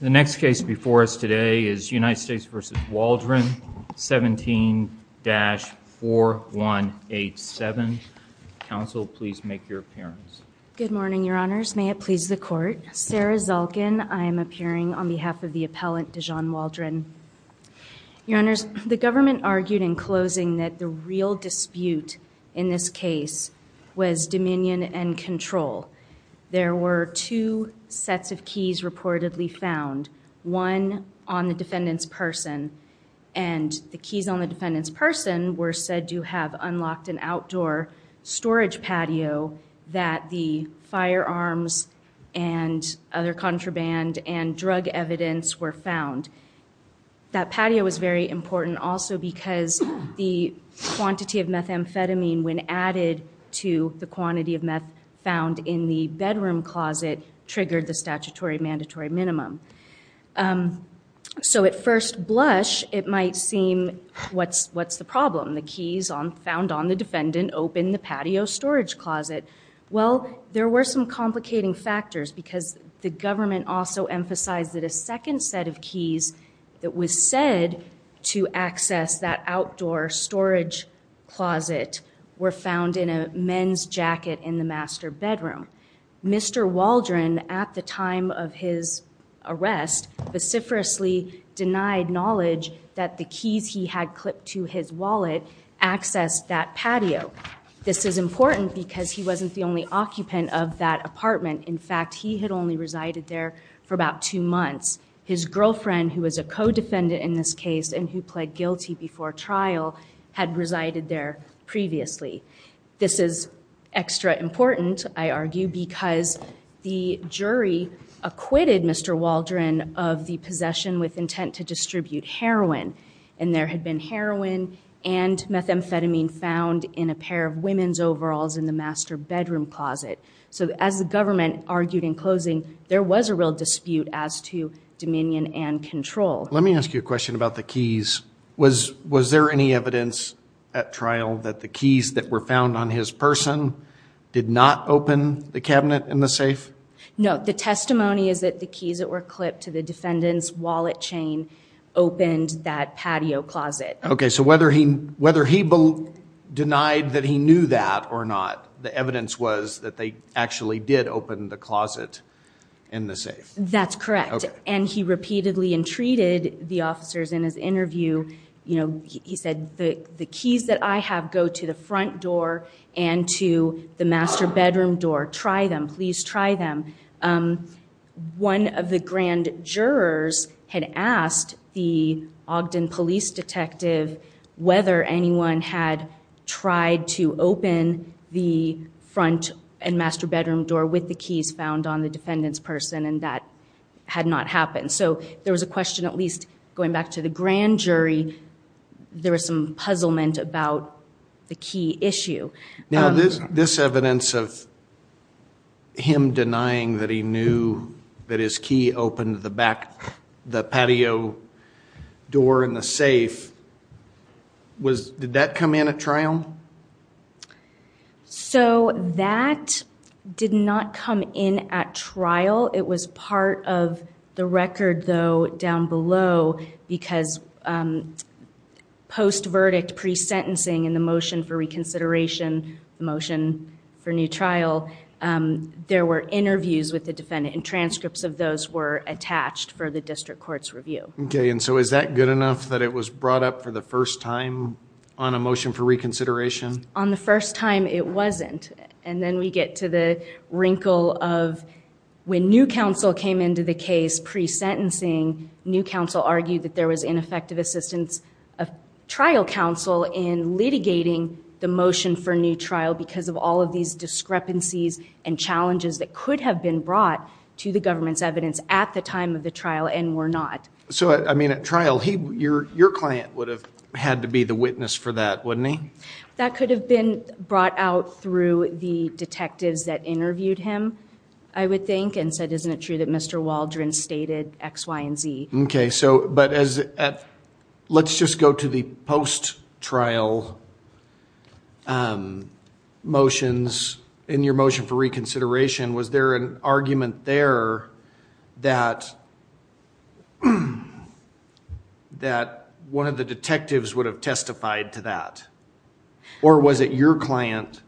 The next case before us today is United States v. Waldron, 17-4187. Counsel, please make your appearance. Good morning, Your Honors. May it please the Court. Sarah Zalkin. I am appearing on behalf of the appellant, Dijon Waldron. Your Honors, the government argued in closing that the real dispute in this case was dominion and control. There were two sets of keys reportedly found, one on the defendant's person, and the keys on the defendant's person were said to have unlocked an outdoor storage patio that the firearms and other contraband and drug evidence were found. That patio was very important also because the quantity of methamphetamine, when added to the quantity of meth found in the bedroom closet, triggered the statutory mandatory minimum. So at first blush, it might seem, what's the problem? The keys found on the defendant opened the patio storage closet. Well, there were some complicating factors because the government also emphasized that a second set of keys that was said to access that outdoor storage closet were found in a men's jacket in the master bedroom. Mr. Waldron, at the time of his arrest, vociferously denied knowledge that the keys he had clipped to his wallet accessed that patio. This is important because he wasn't the only occupant of that apartment. In fact, he had only resided there for about two months. His girlfriend, who was a co-defendant in this case and who pled guilty before trial, had resided there previously. This is extra important, I argue, because the jury acquitted Mr. Waldron of the possession with intent to distribute heroin. And there had been heroin and methamphetamine found in a pair of women's overalls in the master bedroom closet. So as the government argued in closing, there was a real dispute as to dominion and control. Let me ask you a question about the keys. Was there any evidence at trial that the keys that were found on his person did not open the cabinet in the safe? No. The testimony is that the keys that were clipped to the defendant's wallet chain opened that patio closet. Okay, so whether he denied that he knew that or not, the evidence was that they actually did open the closet in the safe. That's correct. And he repeatedly entreated the officers in his interview, you know, he said the keys that I have go to the front door and to the master bedroom door. Try them. Please try them. One of the grand jurors had asked the Ogden police detective whether anyone had tried to open the front and master bedroom door with the keys found on the defendant's person, and that had not happened. So there was a question, at least going back to the grand jury, there was some puzzlement about the key issue. Now this evidence of him denying that he knew that his key opened the back, the patio door in the safe, did that come in at trial? So that did not come in at trial. It was part of the record, though, down below, because post-verdict pre-sentencing in the motion for reconsideration, the motion for new trial, there were interviews with the defendant, and transcripts of those were attached for the district court's review. Okay, and so is that good enough that it was brought up for the first time on a motion for reconsideration? On the first time, it wasn't. And then we get to the wrinkle of when new counsel came into the case pre-sentencing, new counsel argued that there was ineffective assistance of trial counsel in litigating the motion for new trial because of all of these discrepancies and challenges that could have been brought to the government's evidence at the time of the trial and were not. So, I mean, at trial, your client would have had to be the witness for that, wouldn't he? That could have been brought out through the detectives that interviewed him, I would think, and said, isn't it true that Mr. Waldron stated X, Y, and Z? Okay, so let's just go to the post-trial motions. In your motion for reconsideration, was there an argument there that one of the detectives would have testified to that? Or was it your client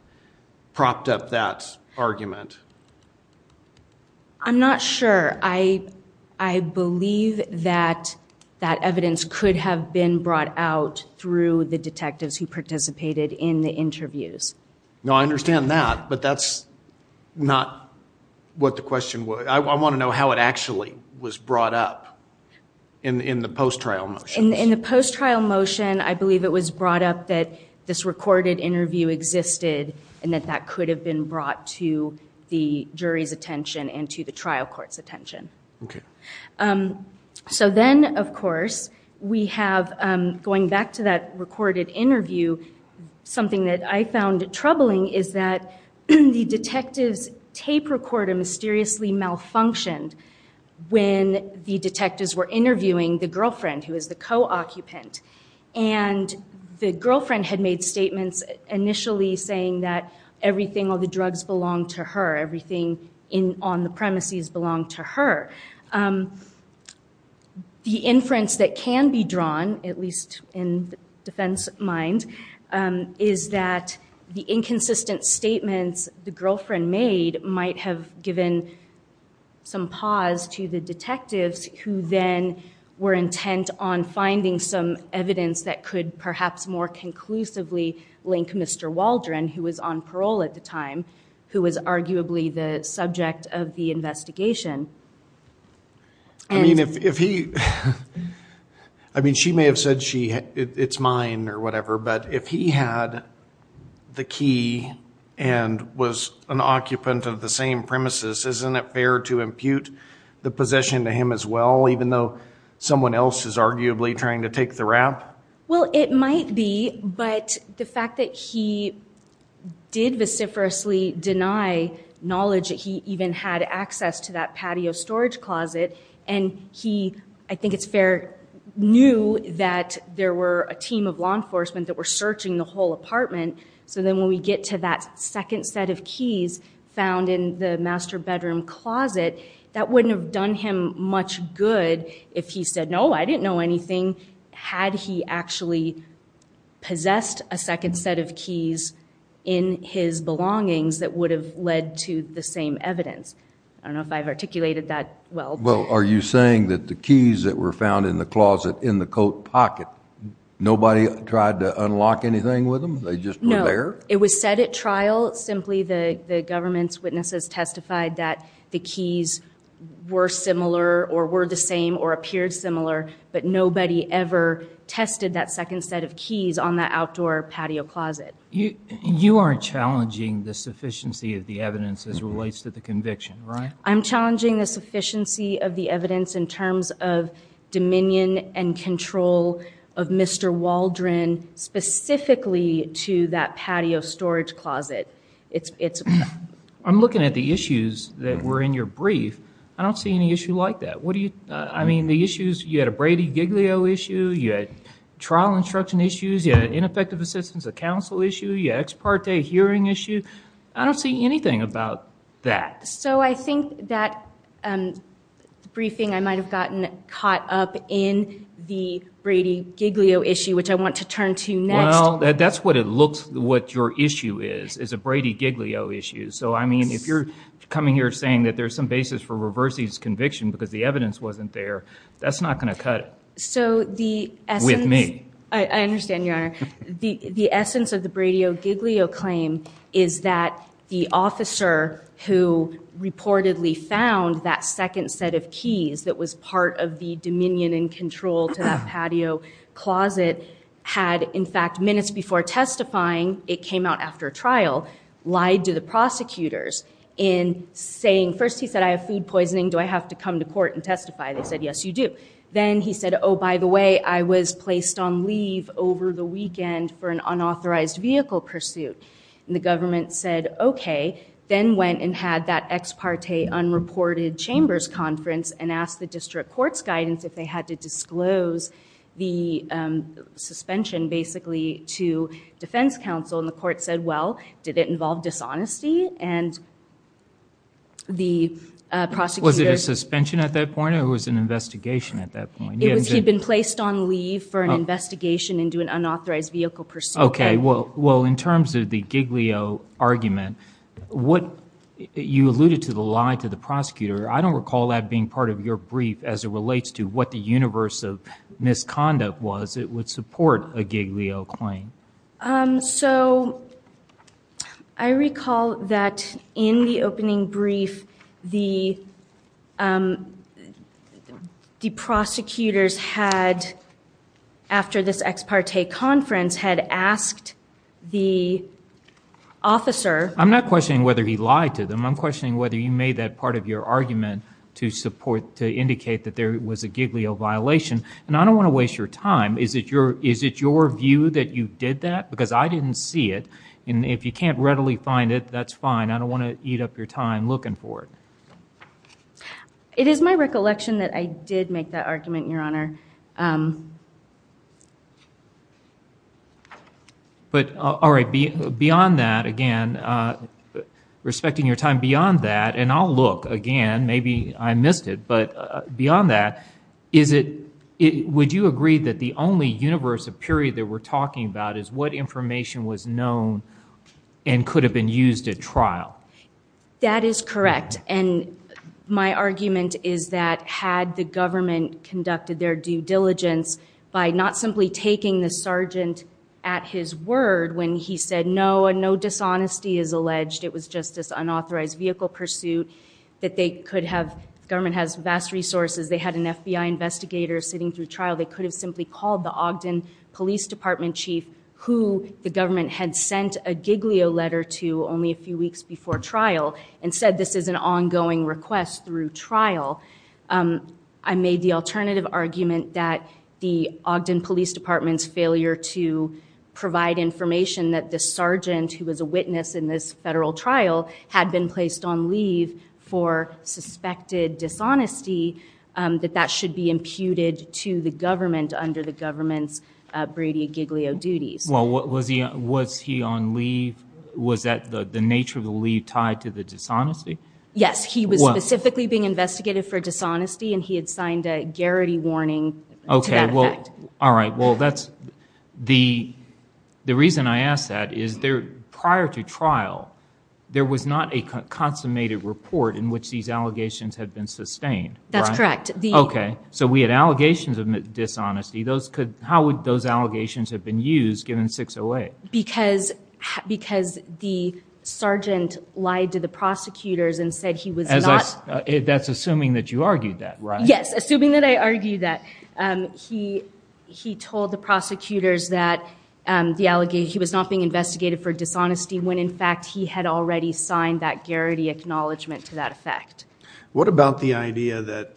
propped up that argument? I'm not sure. I believe that that evidence could have been brought out through the detectives who participated in the interviews. No, I understand that, but that's not what the question was. I want to know how it actually was brought up in the post-trial motions. In the post-trial motion, I believe it was brought up that this recorded interview existed and that that could have been brought to the jury's attention and to the trial court's attention. Okay. So then, of course, we have, going back to that recorded interview, something that I found troubling is that the detectives' tape recorder mysteriously malfunctioned when the detectives were interviewing the girlfriend, who was the co-occupant, and the girlfriend had made statements initially saying that everything, all the drugs belonged to her, everything on the premises belonged to her. The inference that can be drawn, at least in defense mind, is that the inconsistent statements the girlfriend made might have given some pause to the detectives who then were intent on finding some evidence that could perhaps more conclusively link Mr. Waldron, who was on parole at the time, who was arguably the subject of the investigation. I mean, she may have said it's mine or whatever, but if he had the key and was an occupant of the same premises, isn't it fair to impute the possession to him as well, even though someone else is arguably trying to take the rap? Well, it might be, but the fact that he did vociferously deny knowledge that he even had access to that patio storage closet and he, I think it's fair, knew that there were a team of law enforcement that were searching the whole apartment. So then when we get to that second set of keys found in the master bedroom closet, that wouldn't have done him much good if he said, no, I didn't know anything, had he actually possessed a second set of keys in his belongings that would have led to the same evidence. I don't know if I've articulated that well. Well, are you saying that the keys that were found in the closet in the coat pocket, nobody tried to unlock anything with them? They just were there? No. It was set at trial. Simply the government's witnesses testified that the keys were similar or were the same or appeared similar, but nobody ever tested that second set of keys on that outdoor patio closet. You are challenging the sufficiency of the evidence as it relates to the conviction, right? I'm challenging the sufficiency of the evidence in terms of dominion and control of Mr. Waldron, specifically to that patio storage closet. I'm looking at the issues that were in your brief. I don't see any issue like that. I mean, the issues, you had a Brady Giglio issue, you had trial instruction issues, you had ineffective assistance of counsel issue, you had ex parte hearing issue. I don't see anything about that. So I think that briefing, I might have gotten caught up in the Brady Giglio issue, which I want to turn to next. Well, that's what it looks, what your issue is, is a Brady Giglio issue. So, I mean, if you're coming here saying that there's some basis for reversing his conviction because the evidence wasn't there, that's not going to cut it with me. I understand, Your Honor. The essence of the Brady Giglio claim is that the officer who reportedly found that second set of keys that was part of the dominion and control to that patio closet had, in fact, minutes before testifying, it came out after a trial, lied to the prosecutors in saying, first he said, I have food poisoning, do I have to come to court and testify? They said, yes, you do. Then he said, oh, by the way, I was placed on leave over the weekend for an unauthorized vehicle pursuit. And the government said, OK. Then went and had that ex parte unreported chambers conference and asked the district court's guidance if they had to disclose the suspension, basically, to defense counsel. And the court said, well, did it involve dishonesty? Was it a suspension at that point or was it an investigation at that point? He had been placed on leave for an investigation into an unauthorized vehicle pursuit. OK. Well, in terms of the Giglio argument, you alluded to the lie to the prosecutor. I don't recall that being part of your brief as it relates to what the universe of misconduct was that would support a Giglio claim. So I recall that in the opening brief, the prosecutors had, after this ex parte conference, had asked the officer. I'm not questioning whether he lied to them. I'm questioning whether you made that part of your argument to support, to indicate that there was a Giglio violation. And I don't want to waste your time. Is it your view that you did that? Because I didn't see it. And if you can't readily find it, that's fine. I don't want to eat up your time looking for it. It is my recollection that I did make that argument, Your Honor. But, all right, beyond that, again, respecting your time beyond that, and I'll look again. Maybe I missed it. But beyond that, would you agree that the only universe of period that we're talking about is what information was known and could have been used at trial? That is correct. And my argument is that had the government conducted their due diligence by not simply taking the sergeant at his word when he said, no, no dishonesty is alleged, it was just this unauthorized vehicle pursuit, that they could have, the government has vast resources. They had an FBI investigator sitting through trial. They could have simply called the Ogden Police Department chief, who the government had sent a Giglio letter to only a few weeks before trial, and said this is an ongoing request through trial. I made the alternative argument that the Ogden Police Department's failure to provide information that the sergeant, who was a witness in this federal trial, had been placed on leave for suspected dishonesty, that that should be imputed to the government under the government's Brady-Giglio duties. Well, was he on leave? Was that the nature of the leave tied to the dishonesty? Yes, he was specifically being investigated for dishonesty, and he had signed a Garrity warning to that effect. All right. Well, the reason I ask that is prior to trial, there was not a consummated report in which these allegations had been sustained. That's correct. Okay. So we had allegations of dishonesty. How would those allegations have been used given 608? Because the sergeant lied to the prosecutors and said he was not. That's assuming that you argued that, right? Yes, assuming that I argued that. So he told the prosecutors that he was not being investigated for dishonesty when, in fact, he had already signed that Garrity acknowledgment to that effect. What about the idea that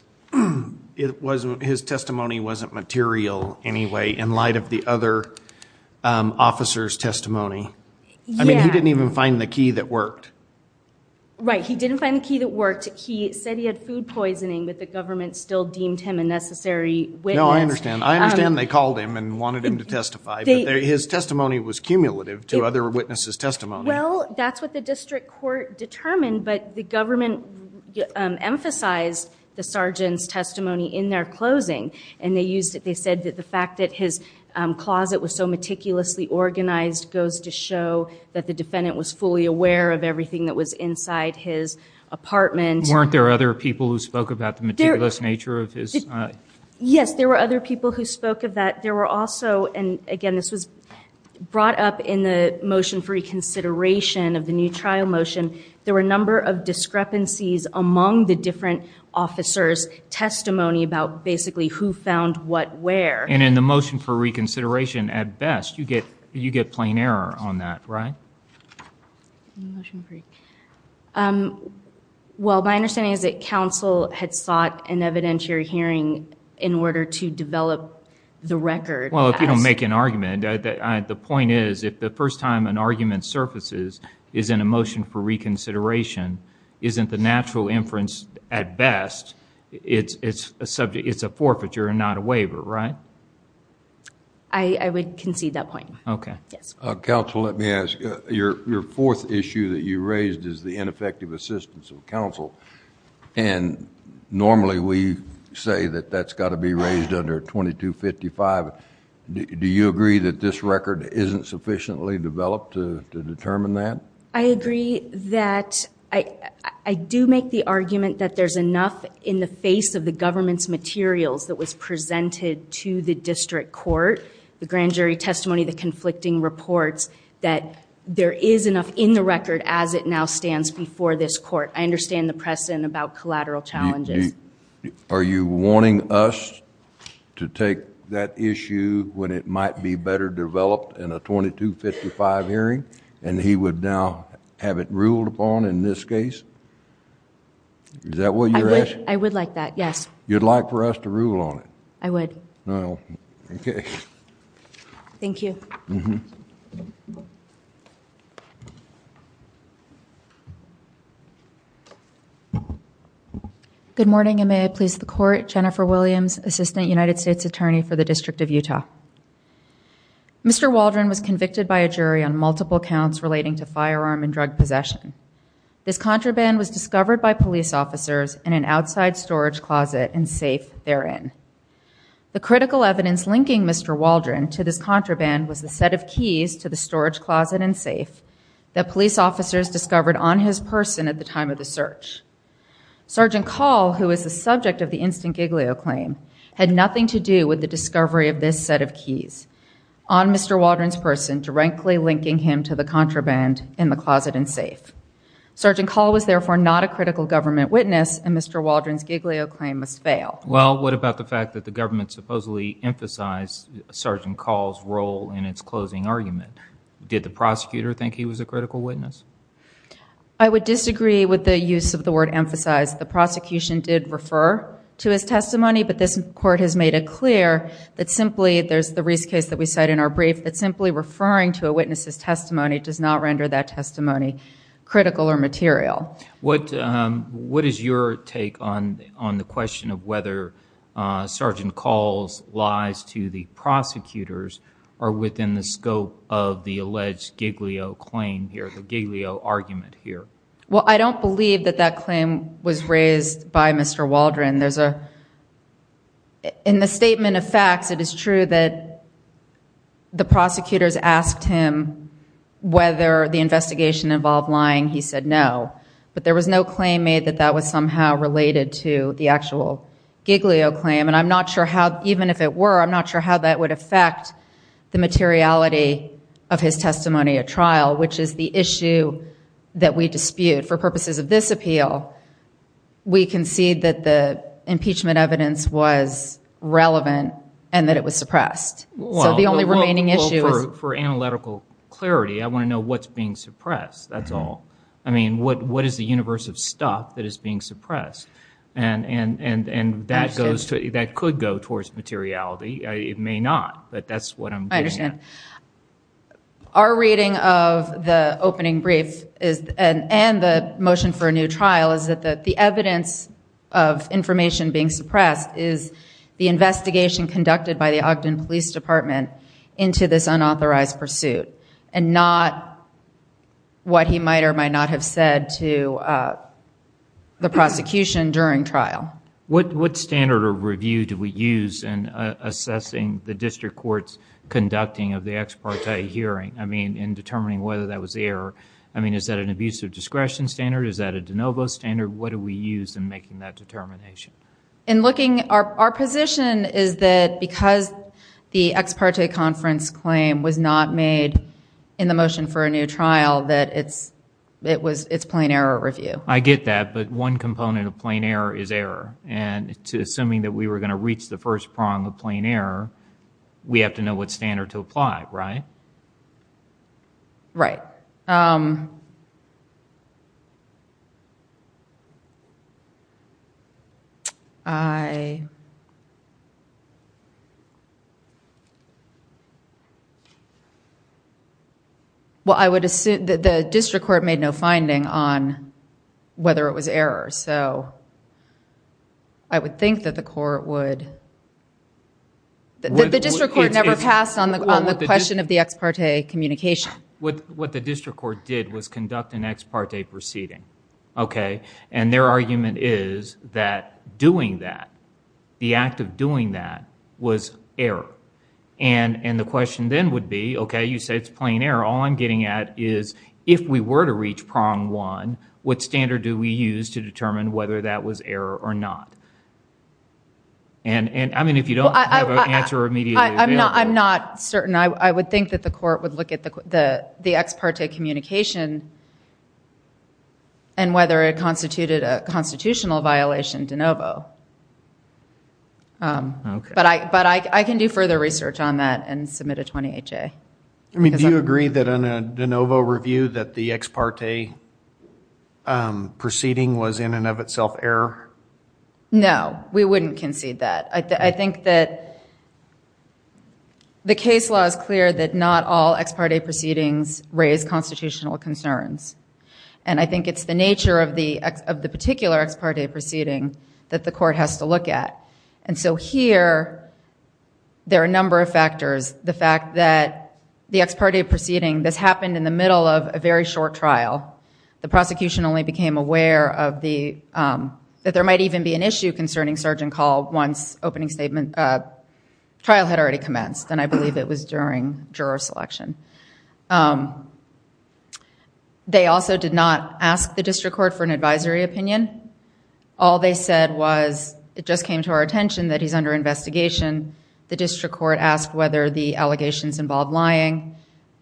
his testimony wasn't material anyway in light of the other officer's testimony? I mean, he didn't even find the key that worked. Right. He didn't find the key that worked. He said he had food poisoning, but the government still deemed him a necessary witness. No, I understand. I understand they called him and wanted him to testify, but his testimony was cumulative to other witnesses' testimony. Well, that's what the district court determined, but the government emphasized the sergeant's testimony in their closing, and they said that the fact that his closet was so meticulously organized goes to show that the defendant was fully aware of everything that was inside his apartment. Weren't there other people who spoke about the meticulous nature of his closet? Yes, there were other people who spoke of that. There were also, and again this was brought up in the motion for reconsideration of the new trial motion, there were a number of discrepancies among the different officers' testimony about basically who found what where. And in the motion for reconsideration, at best, you get plain error on that, right? Well, my understanding is that counsel had sought an evidentiary hearing in order to develop the record. Well, if you don't make an argument. The point is if the first time an argument surfaces is in a motion for reconsideration, isn't the natural inference at best it's a forfeiture and not a waiver, right? I would concede that point. Okay. Counsel, let me ask. Your fourth issue that you raised is the ineffective assistance of counsel, and normally we say that that's got to be raised under 2255. Do you agree that this record isn't sufficiently developed to determine that? I agree that I do make the argument that there's enough in the face of the government's materials that was presented to the district court, the grand jury testimony, the conflicting reports, that there is enough in the record as it now stands before this court. I understand the precedent about collateral challenges. Are you warning us to take that issue when it might be better developed in a 2255 hearing and he would now have it ruled upon in this case? Is that what you're asking? I would like that, yes. You'd like for us to rule on it? I would. Well, okay. Thank you. Good morning, and may I please the court. Jennifer Williams, Assistant United States Attorney for the District of Utah. Mr. Waldron was convicted by a jury on multiple counts relating to firearm and drug possession. This contraband was discovered by police officers in an outside storage closet and safe therein. The critical evidence linking Mr. Waldron to this contraband was the set of keys to the storage closet and safe that police officers discovered on his person at the time of the search. Sergeant Call, who is the subject of the instant Giglio claim, had nothing to do with the discovery of this set of keys on Mr. Waldron's person directly linking him to the contraband in the closet and safe. Sergeant Call was therefore not a critical government witness, and Mr. Waldron's Giglio claim must fail. Well, what about the fact that the government supposedly emphasized Sergeant Call's role in its closing argument? Did the prosecutor think he was a critical witness? I would disagree with the use of the word emphasize. The prosecution did refer to his testimony, but this court has made it clear that simply, there's the Reese case that we cite in our brief, that simply referring to a witness's testimony does not render that testimony critical or material. What is your take on the question of whether Sergeant Call's lies to the prosecutors are within the scope of the alleged Giglio claim here, the Giglio argument here? Well, I don't believe that that claim was raised by Mr. Waldron. In the statement of facts, it is true that the prosecutors asked him whether the investigation involved lying. He said no. But there was no claim made that that was somehow related to the actual Giglio claim. And I'm not sure how, even if it were, I'm not sure how that would affect the materiality of his testimony at trial, which is the issue that we dispute. For purposes of this appeal, we concede that the impeachment evidence was relevant and that it was suppressed. So the only remaining issue is... Well, for analytical clarity, I want to know what's being suppressed, that's all. I mean, what is the universe of stuff that is being suppressed? And that could go towards materiality. It may not, but that's what I'm getting at. Our reading of the opening brief and the motion for a new trial is that the evidence of information being suppressed is the investigation conducted by the Ogden Police Department into this unauthorized pursuit and not what he might or might not have said to the prosecution during trial. What standard of review do we use in assessing the district court's conducting of the ex parte hearing, I mean, in determining whether that was error? I mean, is that an abuse of discretion standard? Is that a de novo standard? What do we use in making that determination? Our position is that because the ex parte conference claim was not made in the motion for a new trial, that it's plain error review. I get that, but one component of plain error is error. Assuming that we were going to reach the first prong of plain error, we have to know what standard to apply, right? Right. I would assume that the district court made no finding on whether it was error, so I would think that the court would... The district court never passed on the question of the ex parte communication. What the district court did was conduct an ex parte proceeding, okay? Their argument is that doing that, the act of doing that was error. The question then would be, okay, you say it's plain error. All I'm getting at is if we were to reach prong one, what standard do we use to determine whether that was error or not? I mean, if you don't have an answer immediately available. I'm not certain. I would think that the court would look at the ex parte communication and whether it constituted a constitutional violation de novo. But I can do further research on that and submit a 20HA. I mean, do you agree that in a de novo review that the ex parte proceeding was in and of itself error? No, we wouldn't concede that. I think that the case law is clear that not all ex parte proceedings raise constitutional concerns, and I think it's the nature of the particular ex parte proceeding that the court has to look at. So here there are a number of factors. The fact that the ex parte proceeding, this happened in the middle of a very short trial. The prosecution only became aware that there might even be an issue concerning Sergeant Call once trial had already commenced, and I believe it was during juror selection. They also did not ask the district court for an advisory opinion. All they said was it just came to our attention that he's under investigation. The district court asked whether the allegations involved lying,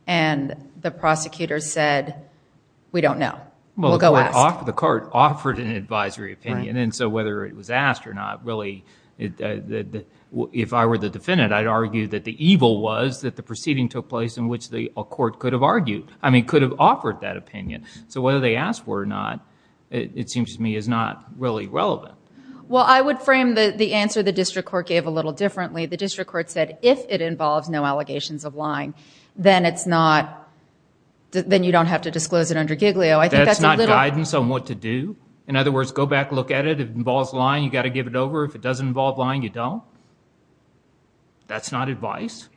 and the prosecutor said we don't know. We'll go ask. Well, the court offered an advisory opinion, and then so whether it was asked or not really, if I were the defendant, I'd argue that the evil was that the proceeding took place in which a court could have argued, I mean could have offered that opinion. So whether they asked for it or not, it seems to me is not really relevant. Well, I would frame the answer the district court gave a little differently. The district court said if it involves no allegations of lying, then you don't have to disclose it under Giglio. That's not guidance on what to do? In other words, go back, look at it. If it involves lying, you've got to give it over. If it doesn't involve lying, you don't? That's not advice?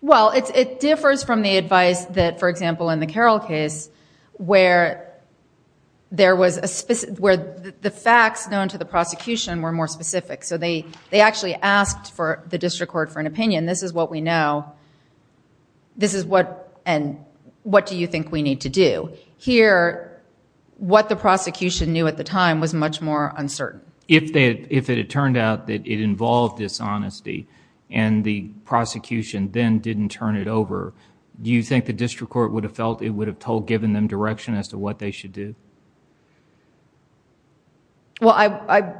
Well, it differs from the advice that, for example, in the Carroll case where the facts known to the prosecution were more specific. So they actually asked the district court for an opinion. This is what we know, and what do you think we need to do? To hear what the prosecution knew at the time was much more uncertain. If it had turned out that it involved dishonesty and the prosecution then didn't turn it over, do you think the district court would have felt it would have told, given them direction as to what they should do? Well, I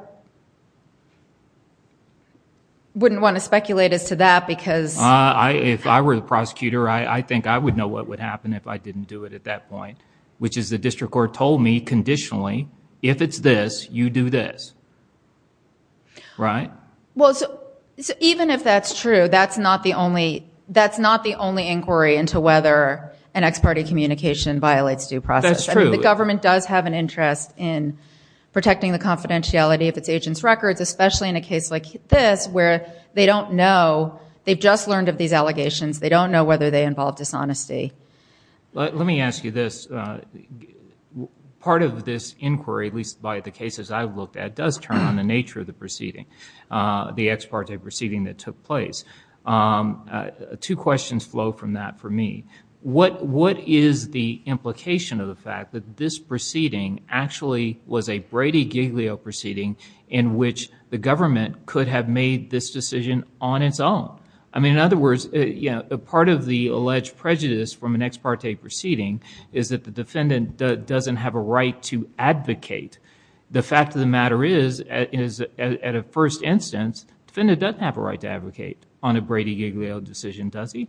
wouldn't want to speculate as to that because... If I were the prosecutor, I think I would know what would happen if I didn't do it at that point, which is the district court told me conditionally, if it's this, you do this. Right? Well, even if that's true, that's not the only inquiry into whether an ex parte communication violates due process. That's true. The government does have an interest in protecting the confidentiality of its agents' records, especially in a case like this where they don't know. They've just learned of these allegations. They don't know whether they involve dishonesty. Let me ask you this. Part of this inquiry, at least by the cases I've looked at, does turn on the nature of the proceeding, the ex parte proceeding that took place. Two questions flow from that for me. What is the implication of the fact that this proceeding actually was a Brady-Giglio proceeding in which the government could have made this decision on its own? I mean, in other words, part of the alleged prejudice from an ex parte proceeding is that the defendant doesn't have a right to advocate. The fact of the matter is, at a first instance, the defendant doesn't have a right to advocate on a Brady-Giglio decision, does he?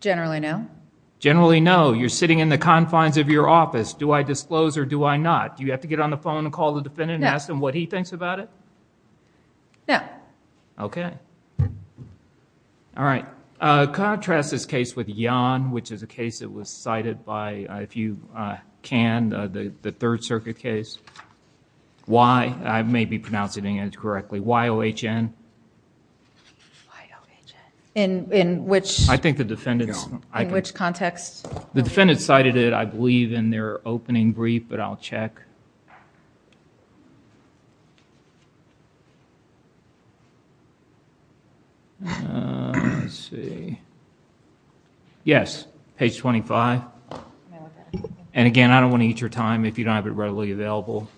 Generally, no. Generally, no. You're sitting in the confines of your office. Do I disclose or do I not? Do you have to get on the phone and call the defendant and ask them what he thinks about it? No. OK. All right. Can I contrast this case with Yan, which is a case that was cited by, if you can, the Third Circuit case? Why? I may be pronouncing it incorrectly. Y-O-H-N. Y-O-H-N. In which? I think the defendant's. No. In which context? The defendant cited it, I believe, in their opening brief, but I'll check. Let's see. Yes. Page 25. And again, I don't want to eat your time if you don't have it readily available.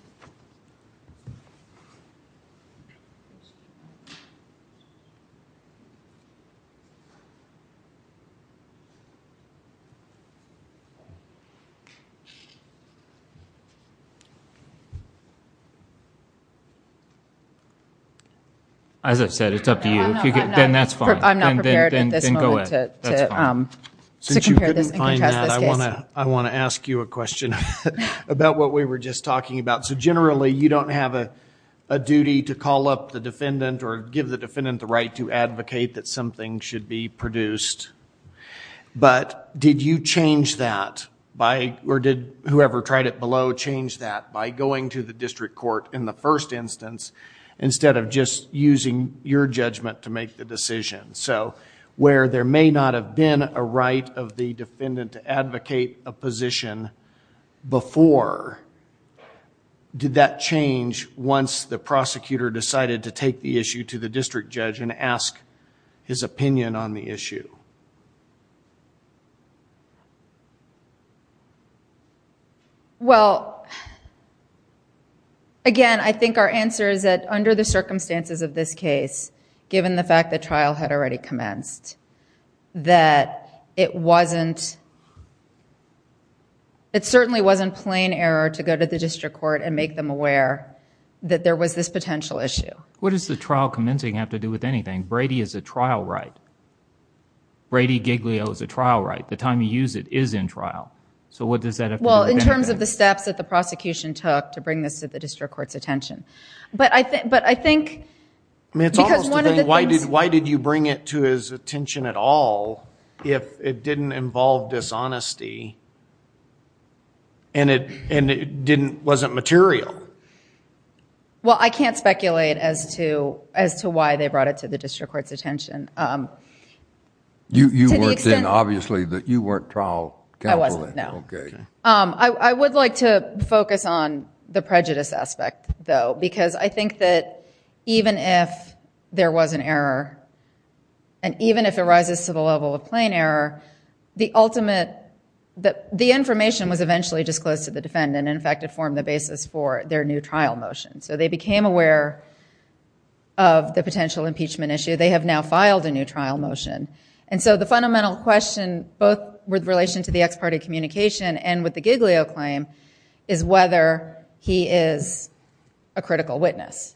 As I've said, it's up to you. Then that's fine. I'm not prepared at this moment to compare this and contrast this case. I want to ask you a question about what we were just talking about. So generally, you don't have a duty to call up the defendant or give the defendant the right to advocate that something should be produced. But did you change that? Or did whoever tried it below change that by going to the district court in the first instance, instead of just using your judgment to make the decision? So where there may not have been a right of the defendant to advocate a position before, did that change once the prosecutor decided to take the issue to the district judge and ask his opinion on the issue? Well, again, I think our answer is that under the circumstances of this case, given the fact that trial had already commenced, that it certainly wasn't plain error to go to the district court and make them aware that there was this potential issue. What does the trial commencing have to do with anything? Brady is a trial right. Brady Giglio is a trial right. The time you use it is in trial. So what does that have to do with anything? Well, in terms of the steps that the prosecution took to bring this to the district court's attention. But I think because one of the things I mean, it's almost a thing. Why did you bring it to his attention at all if it didn't involve dishonesty and it wasn't material? Well, I can't speculate as to why they brought it to the district court's attention. You worked in, obviously, you weren't trial counsel. I wasn't, no. OK. I would like to focus on the prejudice aspect, though. Because I think that even if there was an error, and even if it rises to the level of plain error, the ultimate, the information was eventually disclosed to the defendant. In fact, it formed the basis for their new trial motion. So they became aware of the potential impeachment issue. They have now filed a new trial motion. And so the fundamental question, both with relation to the ex parte communication and with the Giglio claim, is whether he is a critical witness.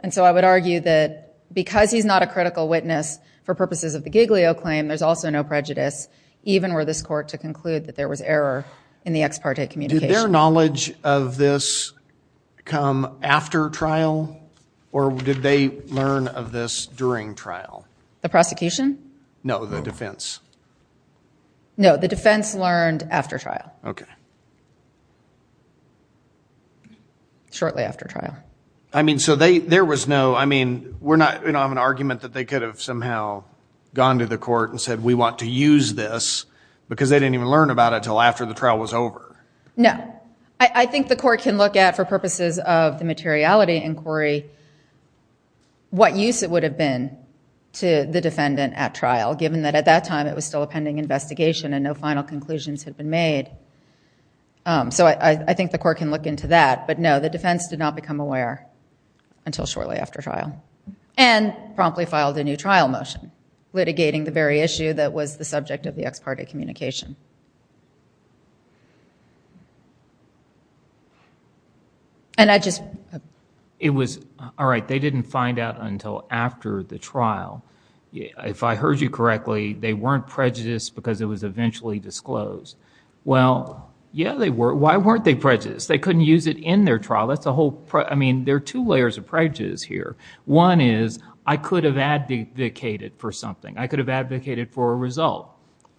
And so I would argue that because he's not a critical witness for purposes of the Giglio claim, there's also no prejudice, even were this court to conclude that there was error in the ex parte communication. Did their knowledge of this come after trial? Or did they learn of this during trial? The prosecution? No, the defense. No, the defense learned after trial. OK. Shortly after trial. I mean, so there was no, I mean, we're not, I have an argument that they could have somehow gone to the court and said, we want to use this. Because they didn't even learn about it until after the trial was over. No. I think the court can look at, for purposes of the materiality inquiry, what use it would have been to the defendant at trial, given that at that time it was still a pending investigation and no final conclusions had been made. So I think the court can look into that. But no, the defense did not become aware until shortly after trial. And promptly filed a new trial motion, litigating the very issue that was the subject of the ex parte communication. And I just. It was, all right, they didn't find out until after the trial. If I heard you correctly, they weren't prejudiced because it was eventually disclosed. Well, yeah, they were. Why weren't they prejudiced? They couldn't use it in their trial. That's a whole, I mean, there are two layers of prejudice here. One is, I could have advocated for something. I could have advocated for a result.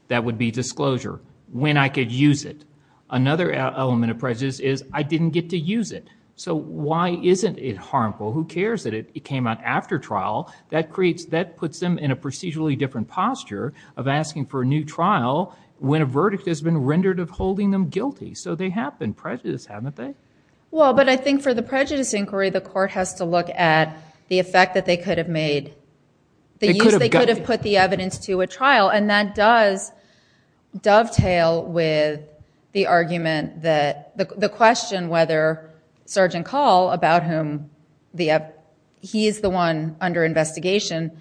That would be disclosure. When I could use it. Another element of prejudice is, I didn't get to use it. So why isn't it harmful? Who cares that it came out after trial? That creates, that puts them in a procedurally different posture of asking for a new trial when a verdict has been rendered of holding them guilty. So they have been prejudiced, haven't they? Well, but I think for the prejudice inquiry, the court has to look at the effect that they could have made. They could have put the evidence to a trial. And that does dovetail with the argument that, the question whether Sergeant Call, about whom he is the one under investigation,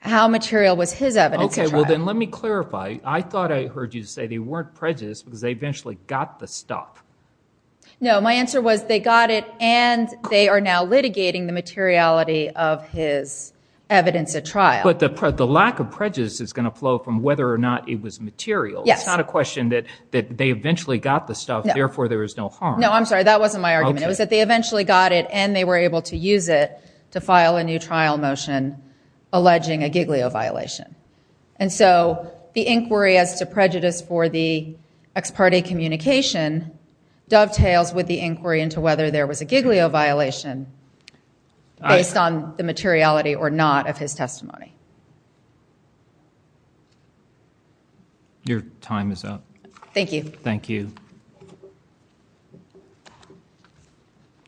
how material was his evidence at trial. OK, well then let me clarify. I thought I heard you say they weren't prejudiced because they eventually got the stuff. No, my answer was they got it and they are now litigating the materiality of his evidence at trial. But the lack of prejudice is going to flow from whether or not it was material. It's not a question that they eventually got the stuff, therefore there is no harm. No, I'm sorry. That wasn't my argument. It was that they eventually got it and they were able to use it to file a new trial motion alleging a Giglio violation. And so the inquiry as to prejudice for the ex parte communication dovetails with the inquiry into whether there was a Giglio violation based on the materiality or not of his testimony. Your time is up. Thank you. Thank you.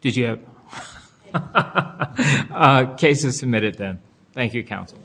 Did you have cases submitted then? Thank you counsel.